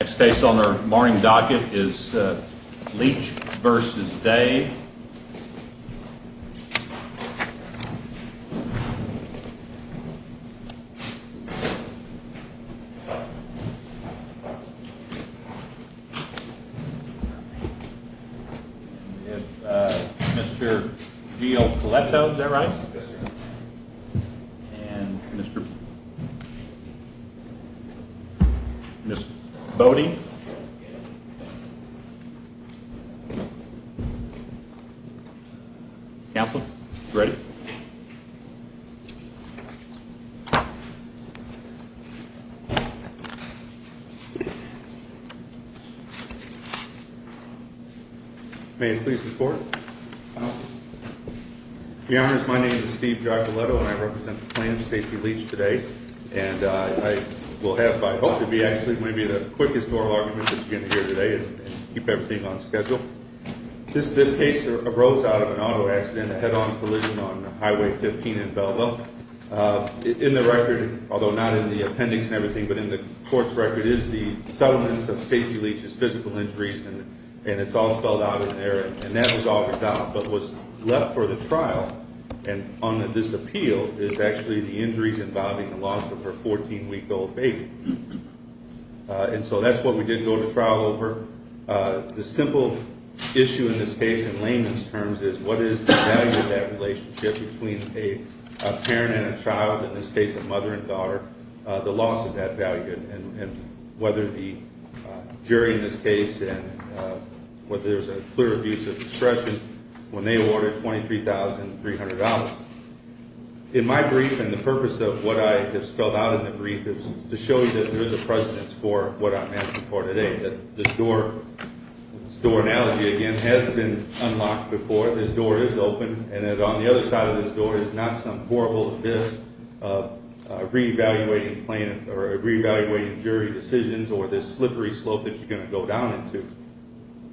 The next case on our morning docket is Leach v. Dave. Mr. G.O. Coletto, is that right? Yes, sir. And Mr. Bode. Counsel, you ready? May I please report? Your Honor, my name is Steve G.O. Coletto, and I represent the plaintiff, Stacey Leach, today. And I will have, I hope to be actually, maybe the quickest oral argument that you're going to hear today and keep everything on schedule. This case arose out of an auto accident, a head-on collision on Highway 15 in Belleville. In the record, although not in the appendix and everything, but in the court's record, is the settlements of Stacey Leach's physical injuries, and it's all spelled out in there, and that was all resolved. But what's left for the trial on this appeal is actually the injuries involving the loss of her 14-week-old baby. And so that's what we did go to trial over. The simple issue in this case in layman's terms is what is the value of that relationship between a parent and a child, in this case a mother and daughter, the loss of that value, and whether the jury in this case and whether there's a clear abuse of discretion when they awarded $23,300. In my brief, and the purpose of what I have spelled out in the brief is to show you that there is a precedence for what I'm asking for today, that this door analogy, again, has been unlocked before. This door is open, and that on the other side of this door is not some horrible abyss, re-evaluating jury decisions or this slippery slope that you're going to go down into.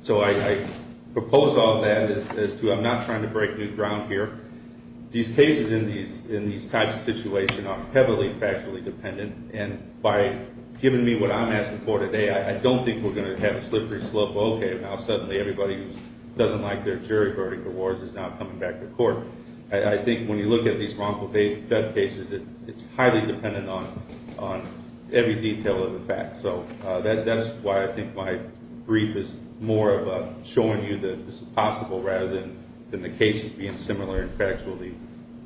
So I propose all that as to I'm not trying to break new ground here. These cases in these types of situations are heavily factually dependent, and by giving me what I'm asking for today, I don't think we're going to have a slippery slope of, okay, now suddenly everybody who doesn't like their jury verdict awards is now coming back to court. I think when you look at these wrongful death cases, it's highly dependent on every detail of the facts. So that's why I think my brief is more of showing you that this is possible rather than the cases being similar in factually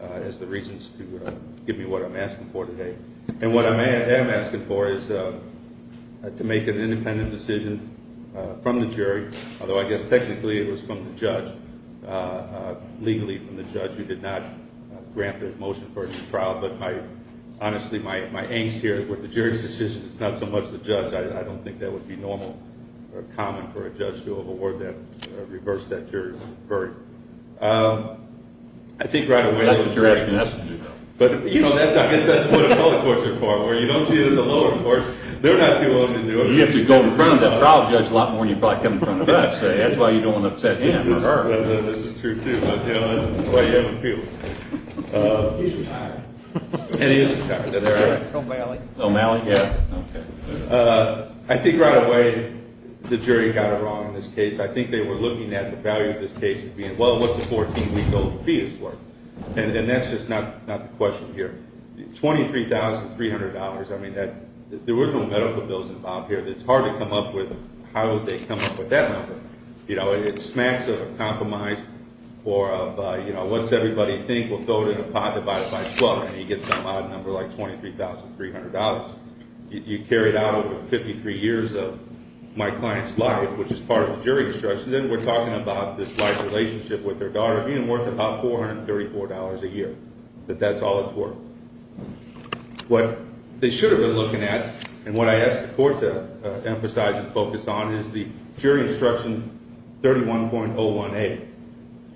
as the reasons to give me what I'm asking for today. And what I am asking for is to make an independent decision from the jury, although I guess technically it was from the judge, legally from the judge, who did not grant the motion for the trial. But honestly, my angst here is with the jury's decision, it's not so much the judge. I don't think that would be normal or common for a judge to award that or reverse that jury's verdict. I think right away the jury got it wrong in this case. I think they were looking at the value of this case as being, well, what's a 14-week-old fetus worth? And that's just not the question here. $23,300, I mean, there were no medical bills involved here that's hard to come up with. How would they come up with that number? You know, it smacks of a compromise or of, you know, what's everybody think? We'll throw it in a pot, divide it by 12, and you get some odd number like $23,300. You carry it out over 53 years of my client's life, which is part of the jury instruction, and we're talking about this life relationship with their daughter being worth about $434 a year. But that's all it's worth. What they should have been looking at and what I asked the court to emphasize and focus on is the jury instruction 31.01A.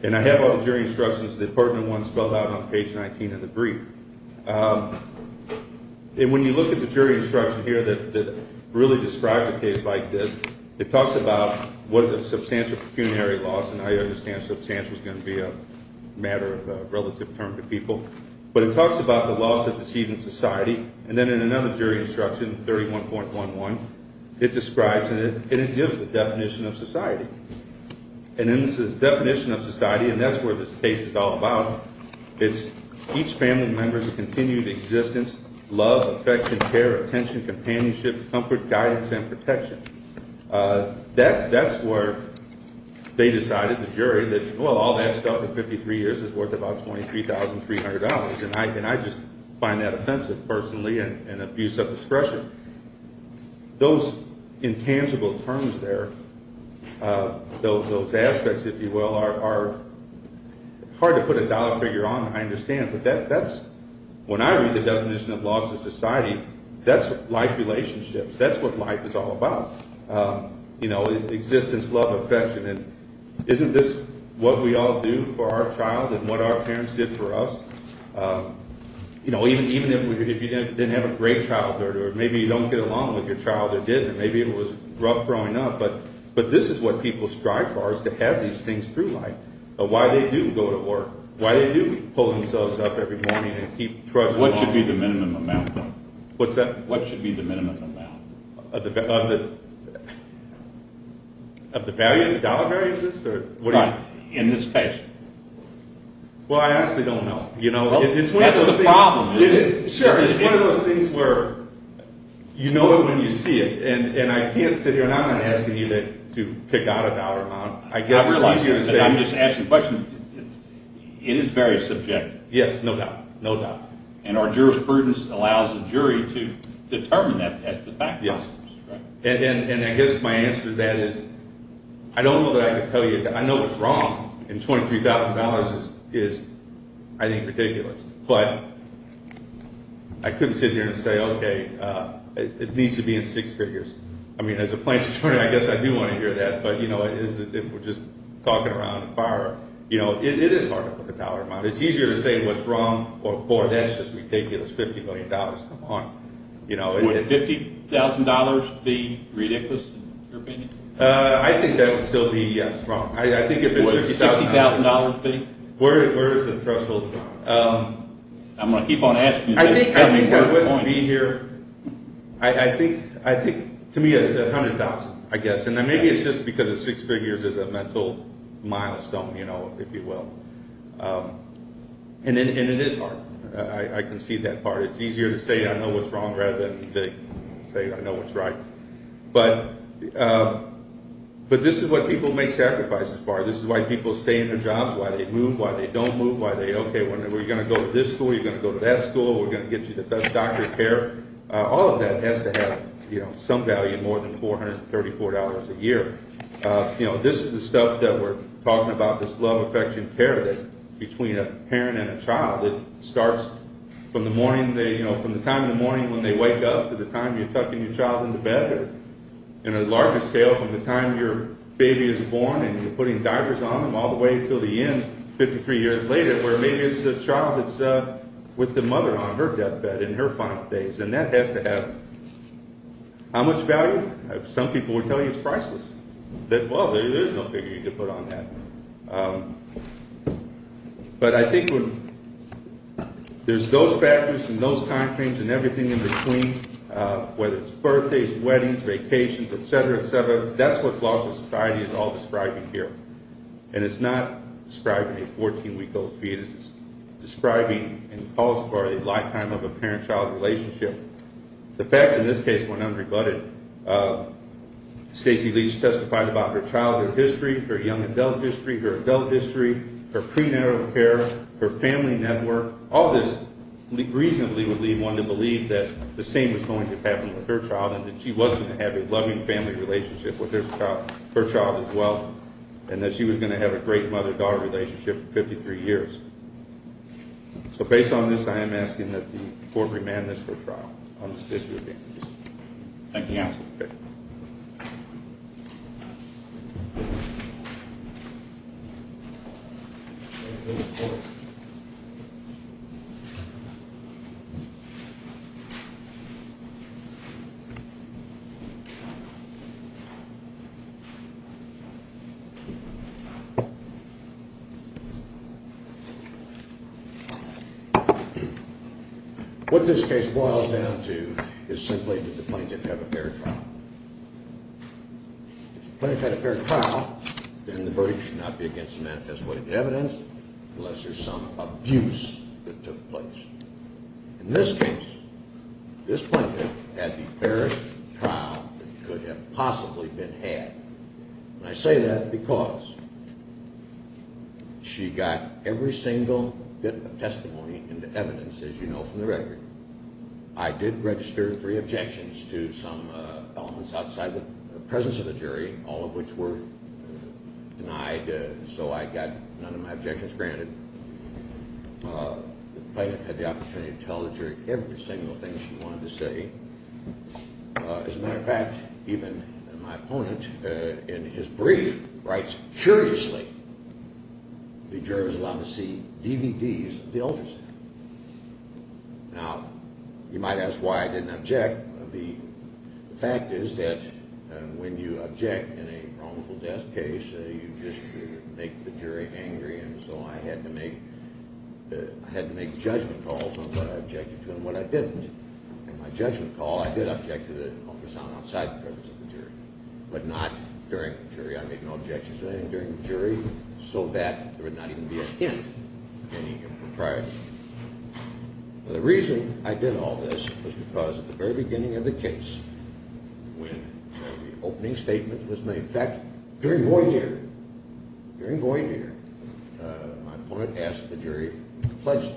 And I have all the jury instructions, the pertinent ones spelled out on page 19 of the brief. And when you look at the jury instruction here that really describes a case like this, it talks about what a substantial pecuniary loss, and I understand substantial is going to be a matter of relative term to people, but it talks about the loss of the seed in society. And then in another jury instruction, 31.11, it describes and it gives the definition of society. And in the definition of society, and that's where this case is all about, it's each family member's continued existence, love, affection, care, attention, companionship, comfort, guidance, and protection. That's where they decided, the jury, that, well, all that stuff in 53 years is worth about $23,300, and I just find that offensive personally and abuse of discretion. Those intangible terms there, those aspects, if you will, are hard to put a dollar figure on, I understand. But that's, when I read the definition of loss of society, that's life relationships. That's what life is all about, you know, existence, love, affection. And isn't this what we all do for our child and what our parents did for us? You know, even if you didn't have a great childhood, or maybe you don't get along with your child who did, and maybe it was rough growing up, but this is what people strive for is to have these things through life, of why they do go to work, why they do pull themselves up every morning and keep trust. What should be the minimum amount? What's that? What should be the minimum amount? Of the value, the dollar value of this? Right, in this case. Well, I honestly don't know. That's the problem. It's one of those things where you know it when you see it. And I can't sit here and I'm not asking you to pick out a dollar amount. I guess it's easier to say. I'm just asking a question. It is very subjective. Yes, no doubt, no doubt. And our jurisprudence allows the jury to determine that, that's the fact. And I guess my answer to that is I don't know that I can tell you. I know what's wrong, and $23,000 is, I think, ridiculous. But I couldn't sit here and say, okay, it needs to be in six figures. I mean, as a plaintiff's attorney, I guess I do want to hear that, but, you know, if we're just talking around the fire, you know, it is hard to pick a dollar amount. It's easier to say what's wrong or that's just ridiculous, $50 million, come on. Would $50,000 be ridiculous in your opinion? I think that would still be, yes, wrong. I think if it's $60,000. Would $60,000 be? Where is the threshold? I'm going to keep on asking. I think that would be here, I think, to me, $100,000, I guess. And maybe it's just because six figures is a mental milestone, you know, if you will. And it is hard. I can see that part. It's easier to say I know what's wrong rather than say I know what's right. But this is what people make sacrifices for. This is why people stay in their jobs, why they move, why they don't move, why they, okay, we're going to go to this school, you're going to go to that school, we're going to get you the best doctor care. All of that has to have, you know, some value more than $434 a year. You know, this is the stuff that we're talking about, this love, affection, care, between a parent and a child. It starts from the morning, you know, from the time in the morning when they wake up to the time you're tucking your child in the bedroom. On a larger scale, from the time your baby is born and you're putting diapers on them all the way until the end, 53 years later, where maybe it's the child that's with the mother on her deathbed in her final days. And that has to have how much value? Some people will tell you it's priceless. Well, there's no figure you can put on that. But I think there's those factors and those timeframes and everything in between, whether it's birthdays, weddings, vacations, et cetera, et cetera. That's what laws of society is all describing here. And it's not describing a 14-week-old fetus. It's describing and calls for a lifetime of a parent-child relationship. The facts in this case went unrebutted. Stacey Leach testified about her childhood history, her young adult history, her adult history, her prenatal care, her family network. All this reasonably would lead one to believe that the same was going to happen with her child and that she was going to have a loving family relationship with her child as well and that she was going to have a great mother-daughter relationship for 53 years. So based on this, I am asking that the court remand this for trial on this issue of damages. Thank you, Your Honor. Okay. What this case boils down to is simply did the plaintiff have a fair trial? If the plaintiff had a fair trial, then the verdict should not be against the manifest way of evidence unless there's some abuse that took place. In this case, this plaintiff had the fairest trial that could have possibly been had. I say that because she got every single bit of testimony into evidence, as you know, from the record. I did register three objections to some elements outside the presence of the jury, all of which were denied, so I got none of my objections granted. The plaintiff had the opportunity to tell the jury every single thing she wanted to say. As a matter of fact, even my opponent in his brief writes curiously, the juror is allowed to see DVDs of the ultrasound. Now, you might ask why I didn't object. The fact is that when you object in a wrongful death case, you just make the jury angry, and so I had to make judgment calls on what I objected to and what I didn't. In my judgment call, I did object to the ultrasound outside the presence of the jury, but not during the jury. I made no objections to anything during the jury, so that there would not even be a hint of any impropriety. Now, the reason I did all this was because at the very beginning of the case, when the opening statement was made, in fact, during Voyneter, during Voyneter, my opponent asked the jury to pledge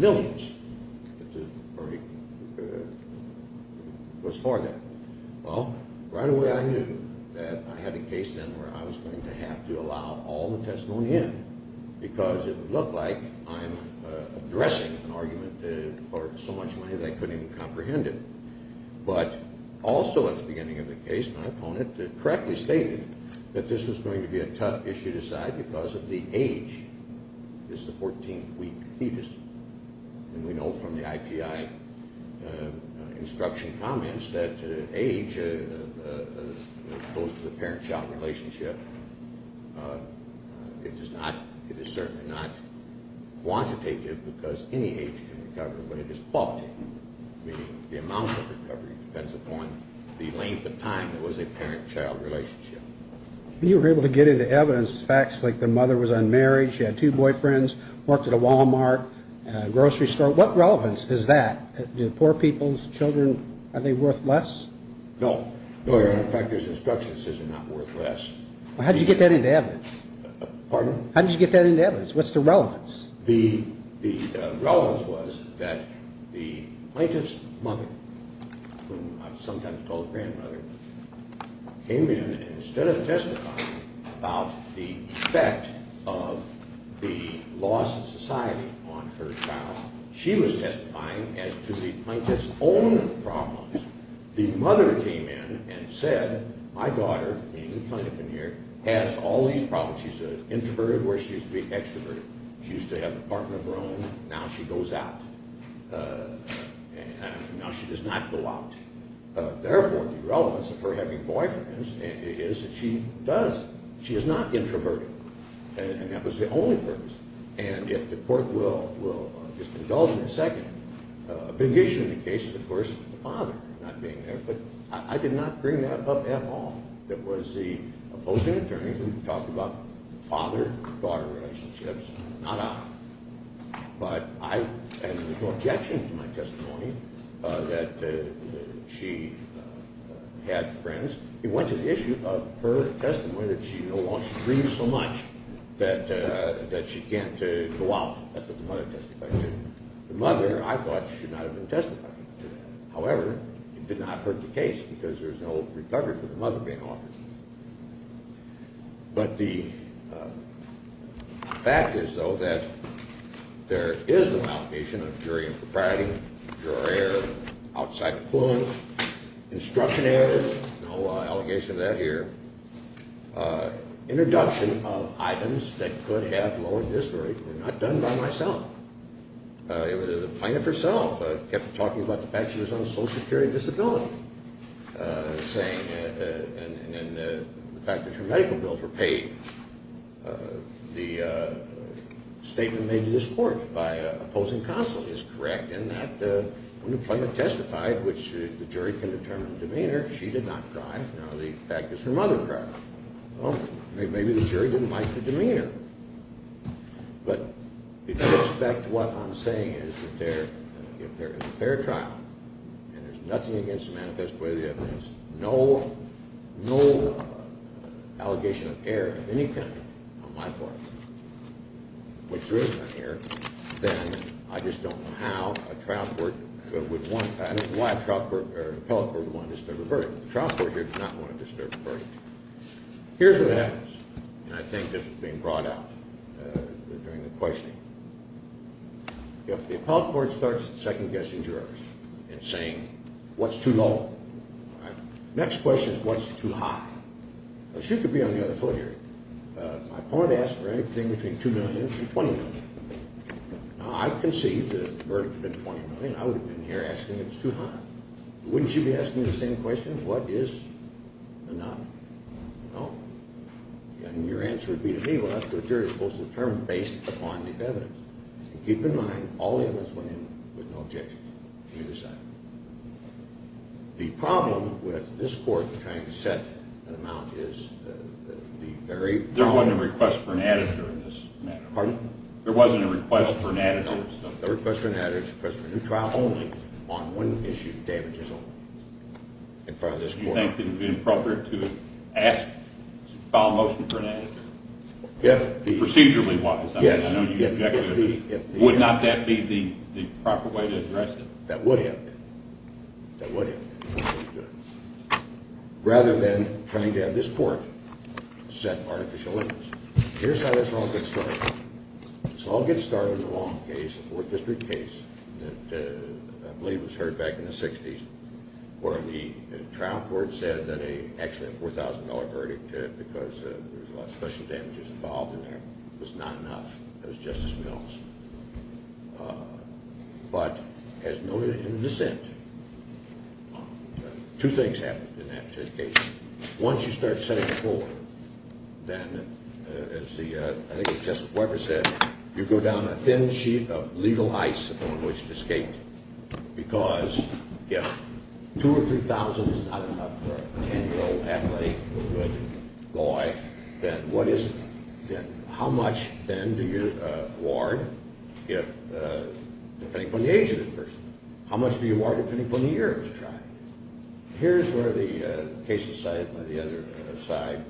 allegiance, which was for that. Well, right away I knew that I had a case then where I was going to have to allow all the testimony in, because it would look like I'm addressing an argument for so much money they couldn't even comprehend it. But also at the beginning of the case, my opponent correctly stated that this was going to be a tough issue to decide because of the age. This is a 14-week fetus. And we know from the IPI instruction comments that age goes to the parent-child relationship. It is certainly not quantitative because any age can recover, but it is qualitative, meaning the amount of recovery depends upon the length of time it was a parent-child relationship. When you were able to get into evidence, facts like the mother was unmarried, she had two boyfriends, worked at a Wal-Mart grocery store, what relevance is that? Do poor people's children, are they worth less? No. In fact, there's instruction that says they're not worth less. How did you get that into evidence? Pardon? How did you get that into evidence? What's the relevance? The relevance was that the plaintiff's mother, whom I sometimes call grandmother, came in and instead of testifying about the effect of the loss of society on her child, she was testifying as to the plaintiff's own problems. The mother came in and said, my daughter, the plaintiff in here, has all these problems. She's an introvert where she used to be extroverted. She used to have a partner of her own, now she goes out. Now she does not go out. Therefore, the relevance of her having boyfriends is that she does. She is not introverted, and that was the only purpose. And if the court will just indulge me a second, a big issue in the case is, of course, the father not being there, but I did not bring that up at all. It was the opposing attorney who talked about father-daughter relationships, not I. But I had no objection to my testimony that she had friends. It went to the issue of her testimony that she no longer dreams so much that she can't go out. That's what the mother testified to. The mother, I thought, should not have been testifying to that. However, it did not hurt the case because there's no recovery for the mother being offered. But the fact is, though, that there is the malformation of jury and propriety, juror error, outside influence, instruction errors. No allegation of that here. Introduction of items that could have lowered this jury were not done by myself. The plaintiff herself kept talking about the fact she was on a social security disability, saying, and the fact that her medical bills were paid. The statement made to this court by opposing counsel is correct in that when the plaintiff testified, which the jury can determine the demeanor, she did not cry. Now the fact is, her mother cried. Well, maybe the jury didn't like the demeanor. But if you respect what I'm saying is that if there is a fair trial and there's nothing against the manifesto or the evidence, no allegation of error of any kind on my part, which there is no error, then I just don't know how a trial court would want that. This is why an appellate court would want to disturb a verdict. The trial court here did not want to disturb a verdict. Here's what happens. And I think this was being brought up during the questioning. If the appellate court starts second-guessing jurors and saying, what's too low? The next question is, what's too high? She could be on the other foot here. If my opponent asked for anything between $2 million and $20 million, now I conceived the verdict to be $20 million. I would have been here asking, it's too high. Wouldn't she be asking the same question, what is enough? No. And your answer would be to me, well, that's what a jury is supposed to determine based upon the evidence. And keep in mind, all the evidence went in with no objections. You decide. The problem with this court trying to set an amount is the very problem. There wasn't a request for an additive in this matter. Pardon? There wasn't a request for an additive. No, there was no request for an additive. Would you think it would be appropriate to file a motion for an additive? Procedurally-wise, I mean, I know you object to that. Would not that be the proper way to address it? That would help. That would help. Rather than trying to have this court set artificial limits. Here's how this all gets started. This all gets started in a long case, a Fourth District case, that I believe was heard back in the 60s, where the trial court said that actually a $4,000 verdict, because there was a lot of special damages involved in there, was not enough. That was Justice Mills. But as noted in the dissent, two things happened in that case. Once you start setting the floor, then, as I think Justice Weber said, you go down a thin sheet of legal ice upon which to skate, because if $2,000 or $3,000 is not enough for a 10-year-old athlete, a good boy, then what is it? Then how much, then, do you award, depending upon the age of the person? How much do you award depending upon the year it was tried? Here's where the cases cited by the other side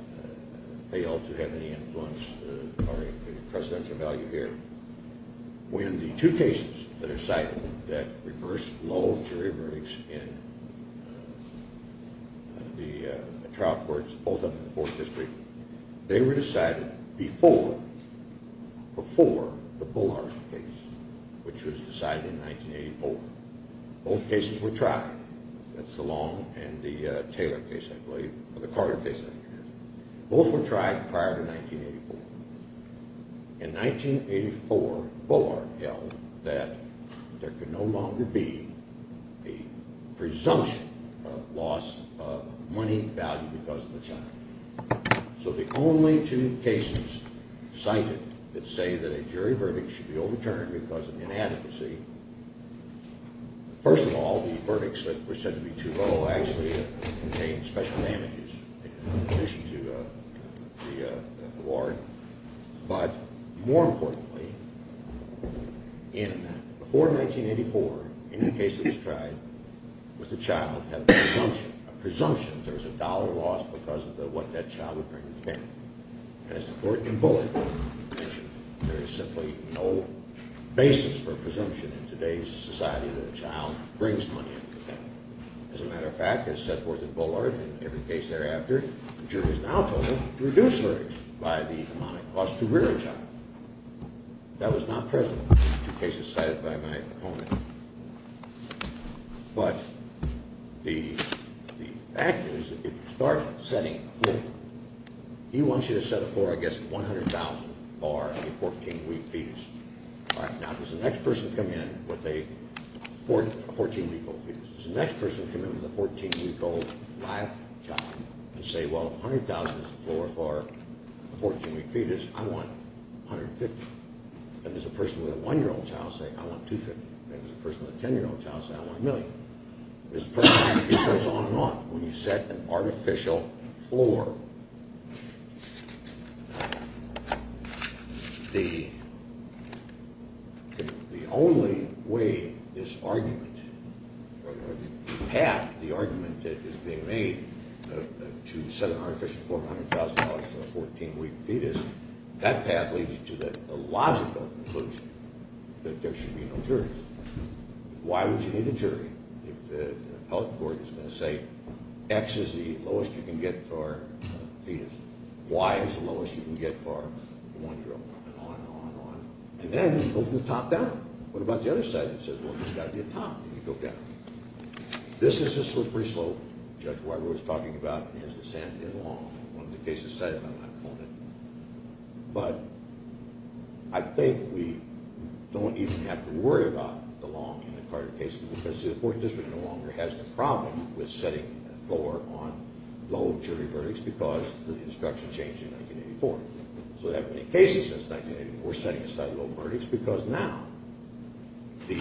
fail to have any influence or any precedential value here. When the two cases that are cited that reversed low jury verdicts in the trial courts, both of them in the Fourth District, they were decided before the Bullard case, which was decided in 1984. Both cases were tried. That's the Long and the Taylor case, I believe, or the Carter case, I think it is. Both were tried prior to 1984. In 1984, Bullard held that there could no longer be a presumption of loss of money value because of the child. So the only two cases cited that say that a jury verdict should be overturned because of inadequacy, first of all, the verdicts that were said to be too low actually contained special damages in addition to the award. But more importantly, before 1984, any case that was tried with a child had a presumption, a presumption there was a dollar loss because of what that child would bring to the family. And as the court in Bullard mentioned, there is simply no basis for presumption in today's society that a child brings money into the family. As a matter of fact, as set forth in Bullard and every case thereafter, the jury has now told them to reduce verdicts by the harmonic cost to rear a child. That was not present in the two cases cited by my opponent. But the fact is that if you start setting a floor, he wants you to set a floor, I guess, $100,000 for a 14-week fetus. All right, now does the next person come in with a 14-week-old fetus? Does the next person come in with a 14-week-old live child and say, well, if $100,000 is the floor for a 14-week fetus, I want $150,000? And does a person with a 1-year-old child say, I want $250,000? And does a person with a 10-year-old child say, I want $1 million? This process goes on and on when you set an artificial floor. Now, the only way this argument, or half the argument that is being made to set an artificial floor of $100,000 for a 14-week fetus, that path leads you to the logical conclusion that there should be no jury. Why would you need a jury if the appellate court is going to say, X is the lowest you can get for a fetus. Y is the lowest you can get for a 1-year-old, and on and on and on. And then you go from the top down. What about the other side that says, well, there's got to be a top? You go down. This is a slippery slope. Judge Weber was talking about his dissent in Long. One of the cases cited by my opponent. But I think we don't even have to worry about the Long in the Carter case because the Fourth District no longer has the problem with setting a floor on low jury verdicts because the instruction changed in 1984. So we haven't had any cases since 1984 setting aside low verdicts because now the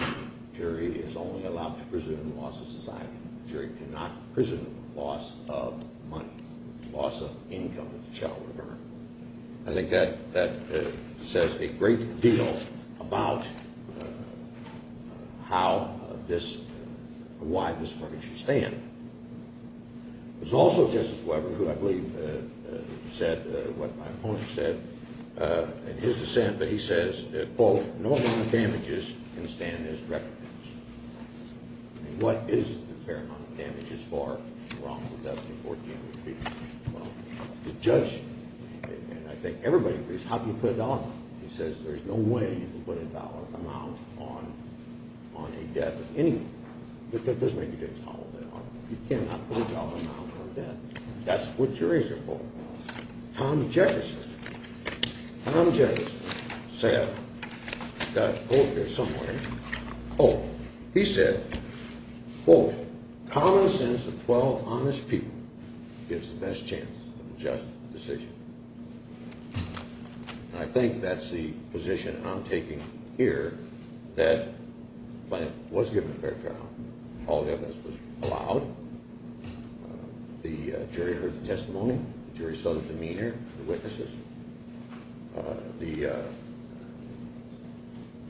jury is only allowed to presume loss of society. The jury cannot presume loss of money, loss of income that the child would have earned. I think that says a great deal about how this, why this verdict should stand. There's also Justice Weber, who I believe said what my opponent said in his dissent, but he says, quote, no amount of damages can stand this record. What is the fair amount of damage as far as wrong with W14 would be? Well, the judge, and I think everybody agrees, how can you put a dollar amount? He says there's no way you can put a dollar amount on a debt of anyone. It doesn't make you get a dollar amount. You cannot put a dollar amount on a debt. That's what juries are for. Tom Jefferson. Tom Jefferson said, I've got a quote here somewhere. Oh, he said, quote, common sense of 12 honest people gives the best chance of a just decision. And I think that's the position I'm taking here that the claimant was given a fair trial. All evidence was allowed. The jury heard the testimony. The jury saw the demeanor of the witnesses. The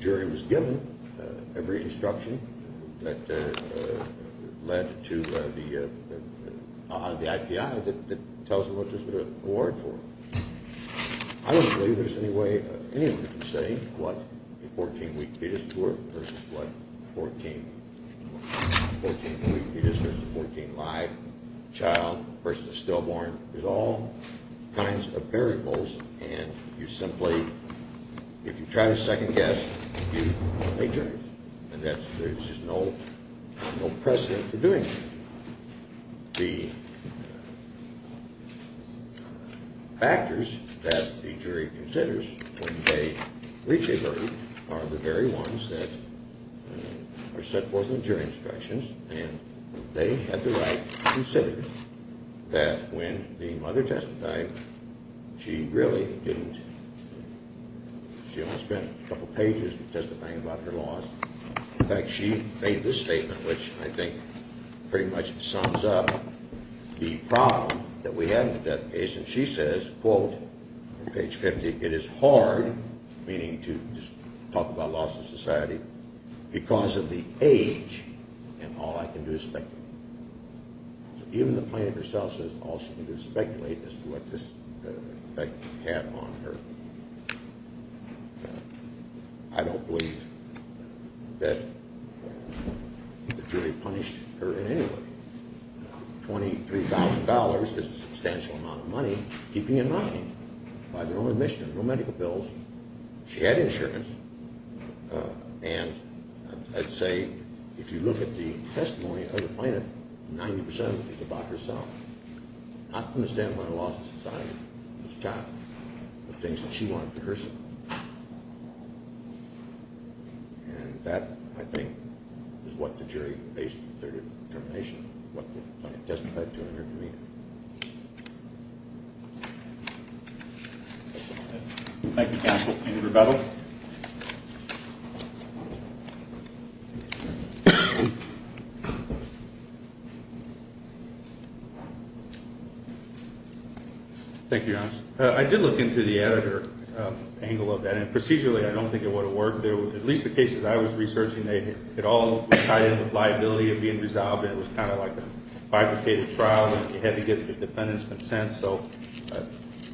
jury was given every instruction that led to the IPI that tells them what to award for. I don't believe there's any way anyone can say what a 14-week fetus versus what a 14-week fetus versus a 14-life child versus stillborn. There's all kinds of variables, and you simply, if you try to second guess, you are a jury. And there's just no precedent for doing that. The factors that the jury considers when they reach a verdict are the very ones that are set forth in the jury instructions. And they have the right to say that when the mother testified, she really didn't, she only spent a couple pages testifying about her loss. In fact, she made this statement, which I think pretty much sums up the problem that we have in the death case. And she says, quote, on page 50, it is hard, meaning to just talk about loss of society, because of the age, and all I can do is speculate. So even the plaintiff herself says all she can do is speculate as to what this had on her. I don't believe that the jury punished her in any way. $23,000 is a substantial amount of money, keeping in mind, by their own admission, no medical bills. She had insurance, and I'd say if you look at the testimony of the plaintiff, 90% is about herself. Not from the standpoint of loss of society, this child, but things that she wanted for herself. And that, I think, is what the jury based their determination, what the plaintiff testified to in her demeanor. Thank you, counsel. Andrew Rebeville. Thank you, Your Honor. I did look into the editor angle of that. And procedurally, I don't think it would have worked. At least the cases I was researching, it all tied in with liability of being resolved, and it was kind of like a bifurcated trial. You had to get the defendant's consent. So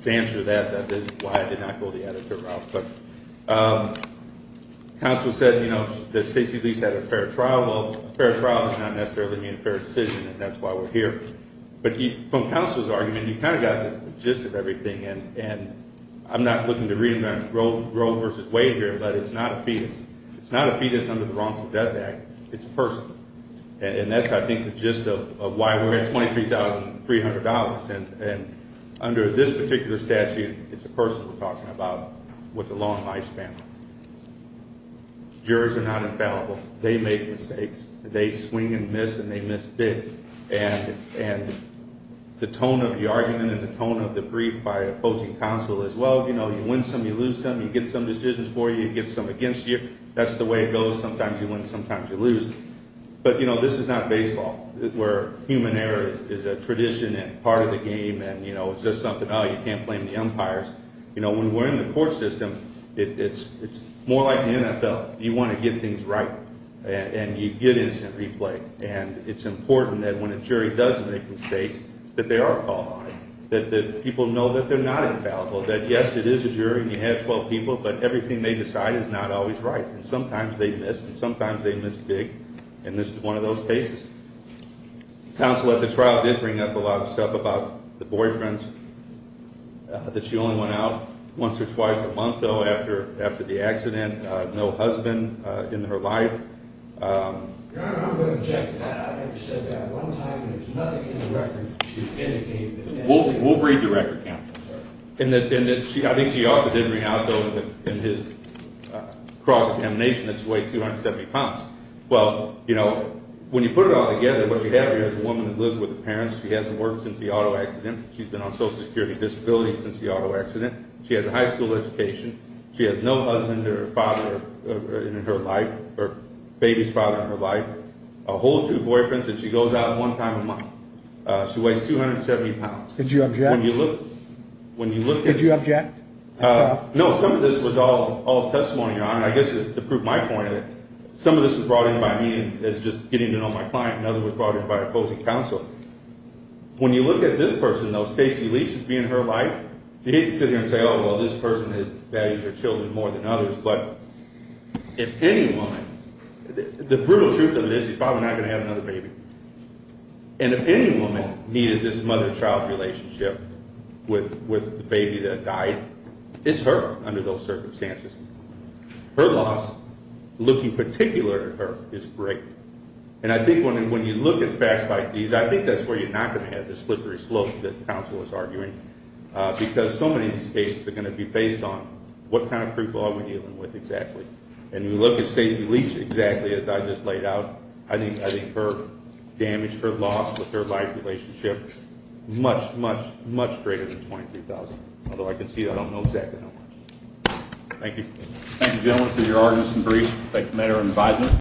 to answer that, that is why I did not go the editor route. But counsel said, you know, that Stacey Leese had a fair trial. Well, a fair trial is not necessarily a fair decision, and that's why we're here. But from counsel's argument, you kind of got the gist of everything. And I'm not looking to read them on Grove v. Wade here, but it's not a fetus. It's not a fetus under the Wrongful Death Act. It's a person. And that's, I think, the gist of why we're at $23,300. And under this particular statute, it's a person we're talking about with a long lifespan. Jurors are not infallible. They make mistakes. They swing and miss and they miss big. And the tone of the argument and the tone of the brief by opposing counsel is, well, you know, you win some, you lose some, you get some decisions for you, you get some against you. That's the way it goes. Sometimes you win, sometimes you lose. But, you know, this is not baseball where human error is a tradition and part of the game, and, you know, it's just something, oh, you can't blame the umpires. You know, when we're in the court system, it's more like the NFL. You want to get things right, and you get instant replay. And it's important that when a jury does make mistakes that they are called on, that people know that they're not infallible, that, yes, it is a jury and you have 12 people, but everything they decide is not always right. And sometimes they miss, and sometimes they miss big. And this is one of those cases. Counsel at the trial did bring up a lot of stuff about the boyfriends, that she only went out once or twice a month, though, after the accident. No husband in her life. Your Honor, I'm going to object to that. I think she said that one time, and there's nothing in the record to indicate that. We'll read the record, Counsel. And I think she also did bring out, though, in his cross-examination that he weighed 270 pounds. Well, you know, when you put it all together, what you have here is a woman who lives with her parents. She hasn't worked since the auto accident. She's been on social security disability since the auto accident. She has a high school education. She has no husband or father in her life, or baby's father in her life. A whole two boyfriends, and she goes out one time a month. She weighs 270 pounds. Did you object? When you look at it. Did you object at all? No, some of this was all testimony, Your Honor. I guess just to prove my point, some of this was brought in by me as just getting to know my client. Another was brought in by opposing counsel. When you look at this person, though, Stacy Lee, she's been in her life. You hate to sit here and say, oh, well, this person values her children more than others. But if any woman, the brutal truth of it is she's probably not going to have another baby. And if any woman needed this mother-child relationship with the baby that died, it's her under those circumstances. Her loss, looking particular at her, is great. And I think when you look at facts like these, I think that's where you're not going to have the slippery slope that counsel was arguing. Because so many of these cases are going to be based on what kind of people are we dealing with exactly. And you look at Stacy Lee exactly as I just laid out. I think her damage, her loss with her life relationship, much, much, much greater than $22,000. Although I can see I don't know exactly how much. Thank you. Thank you, gentlemen, for your arguments and briefs. Thank you, Madam Advisor.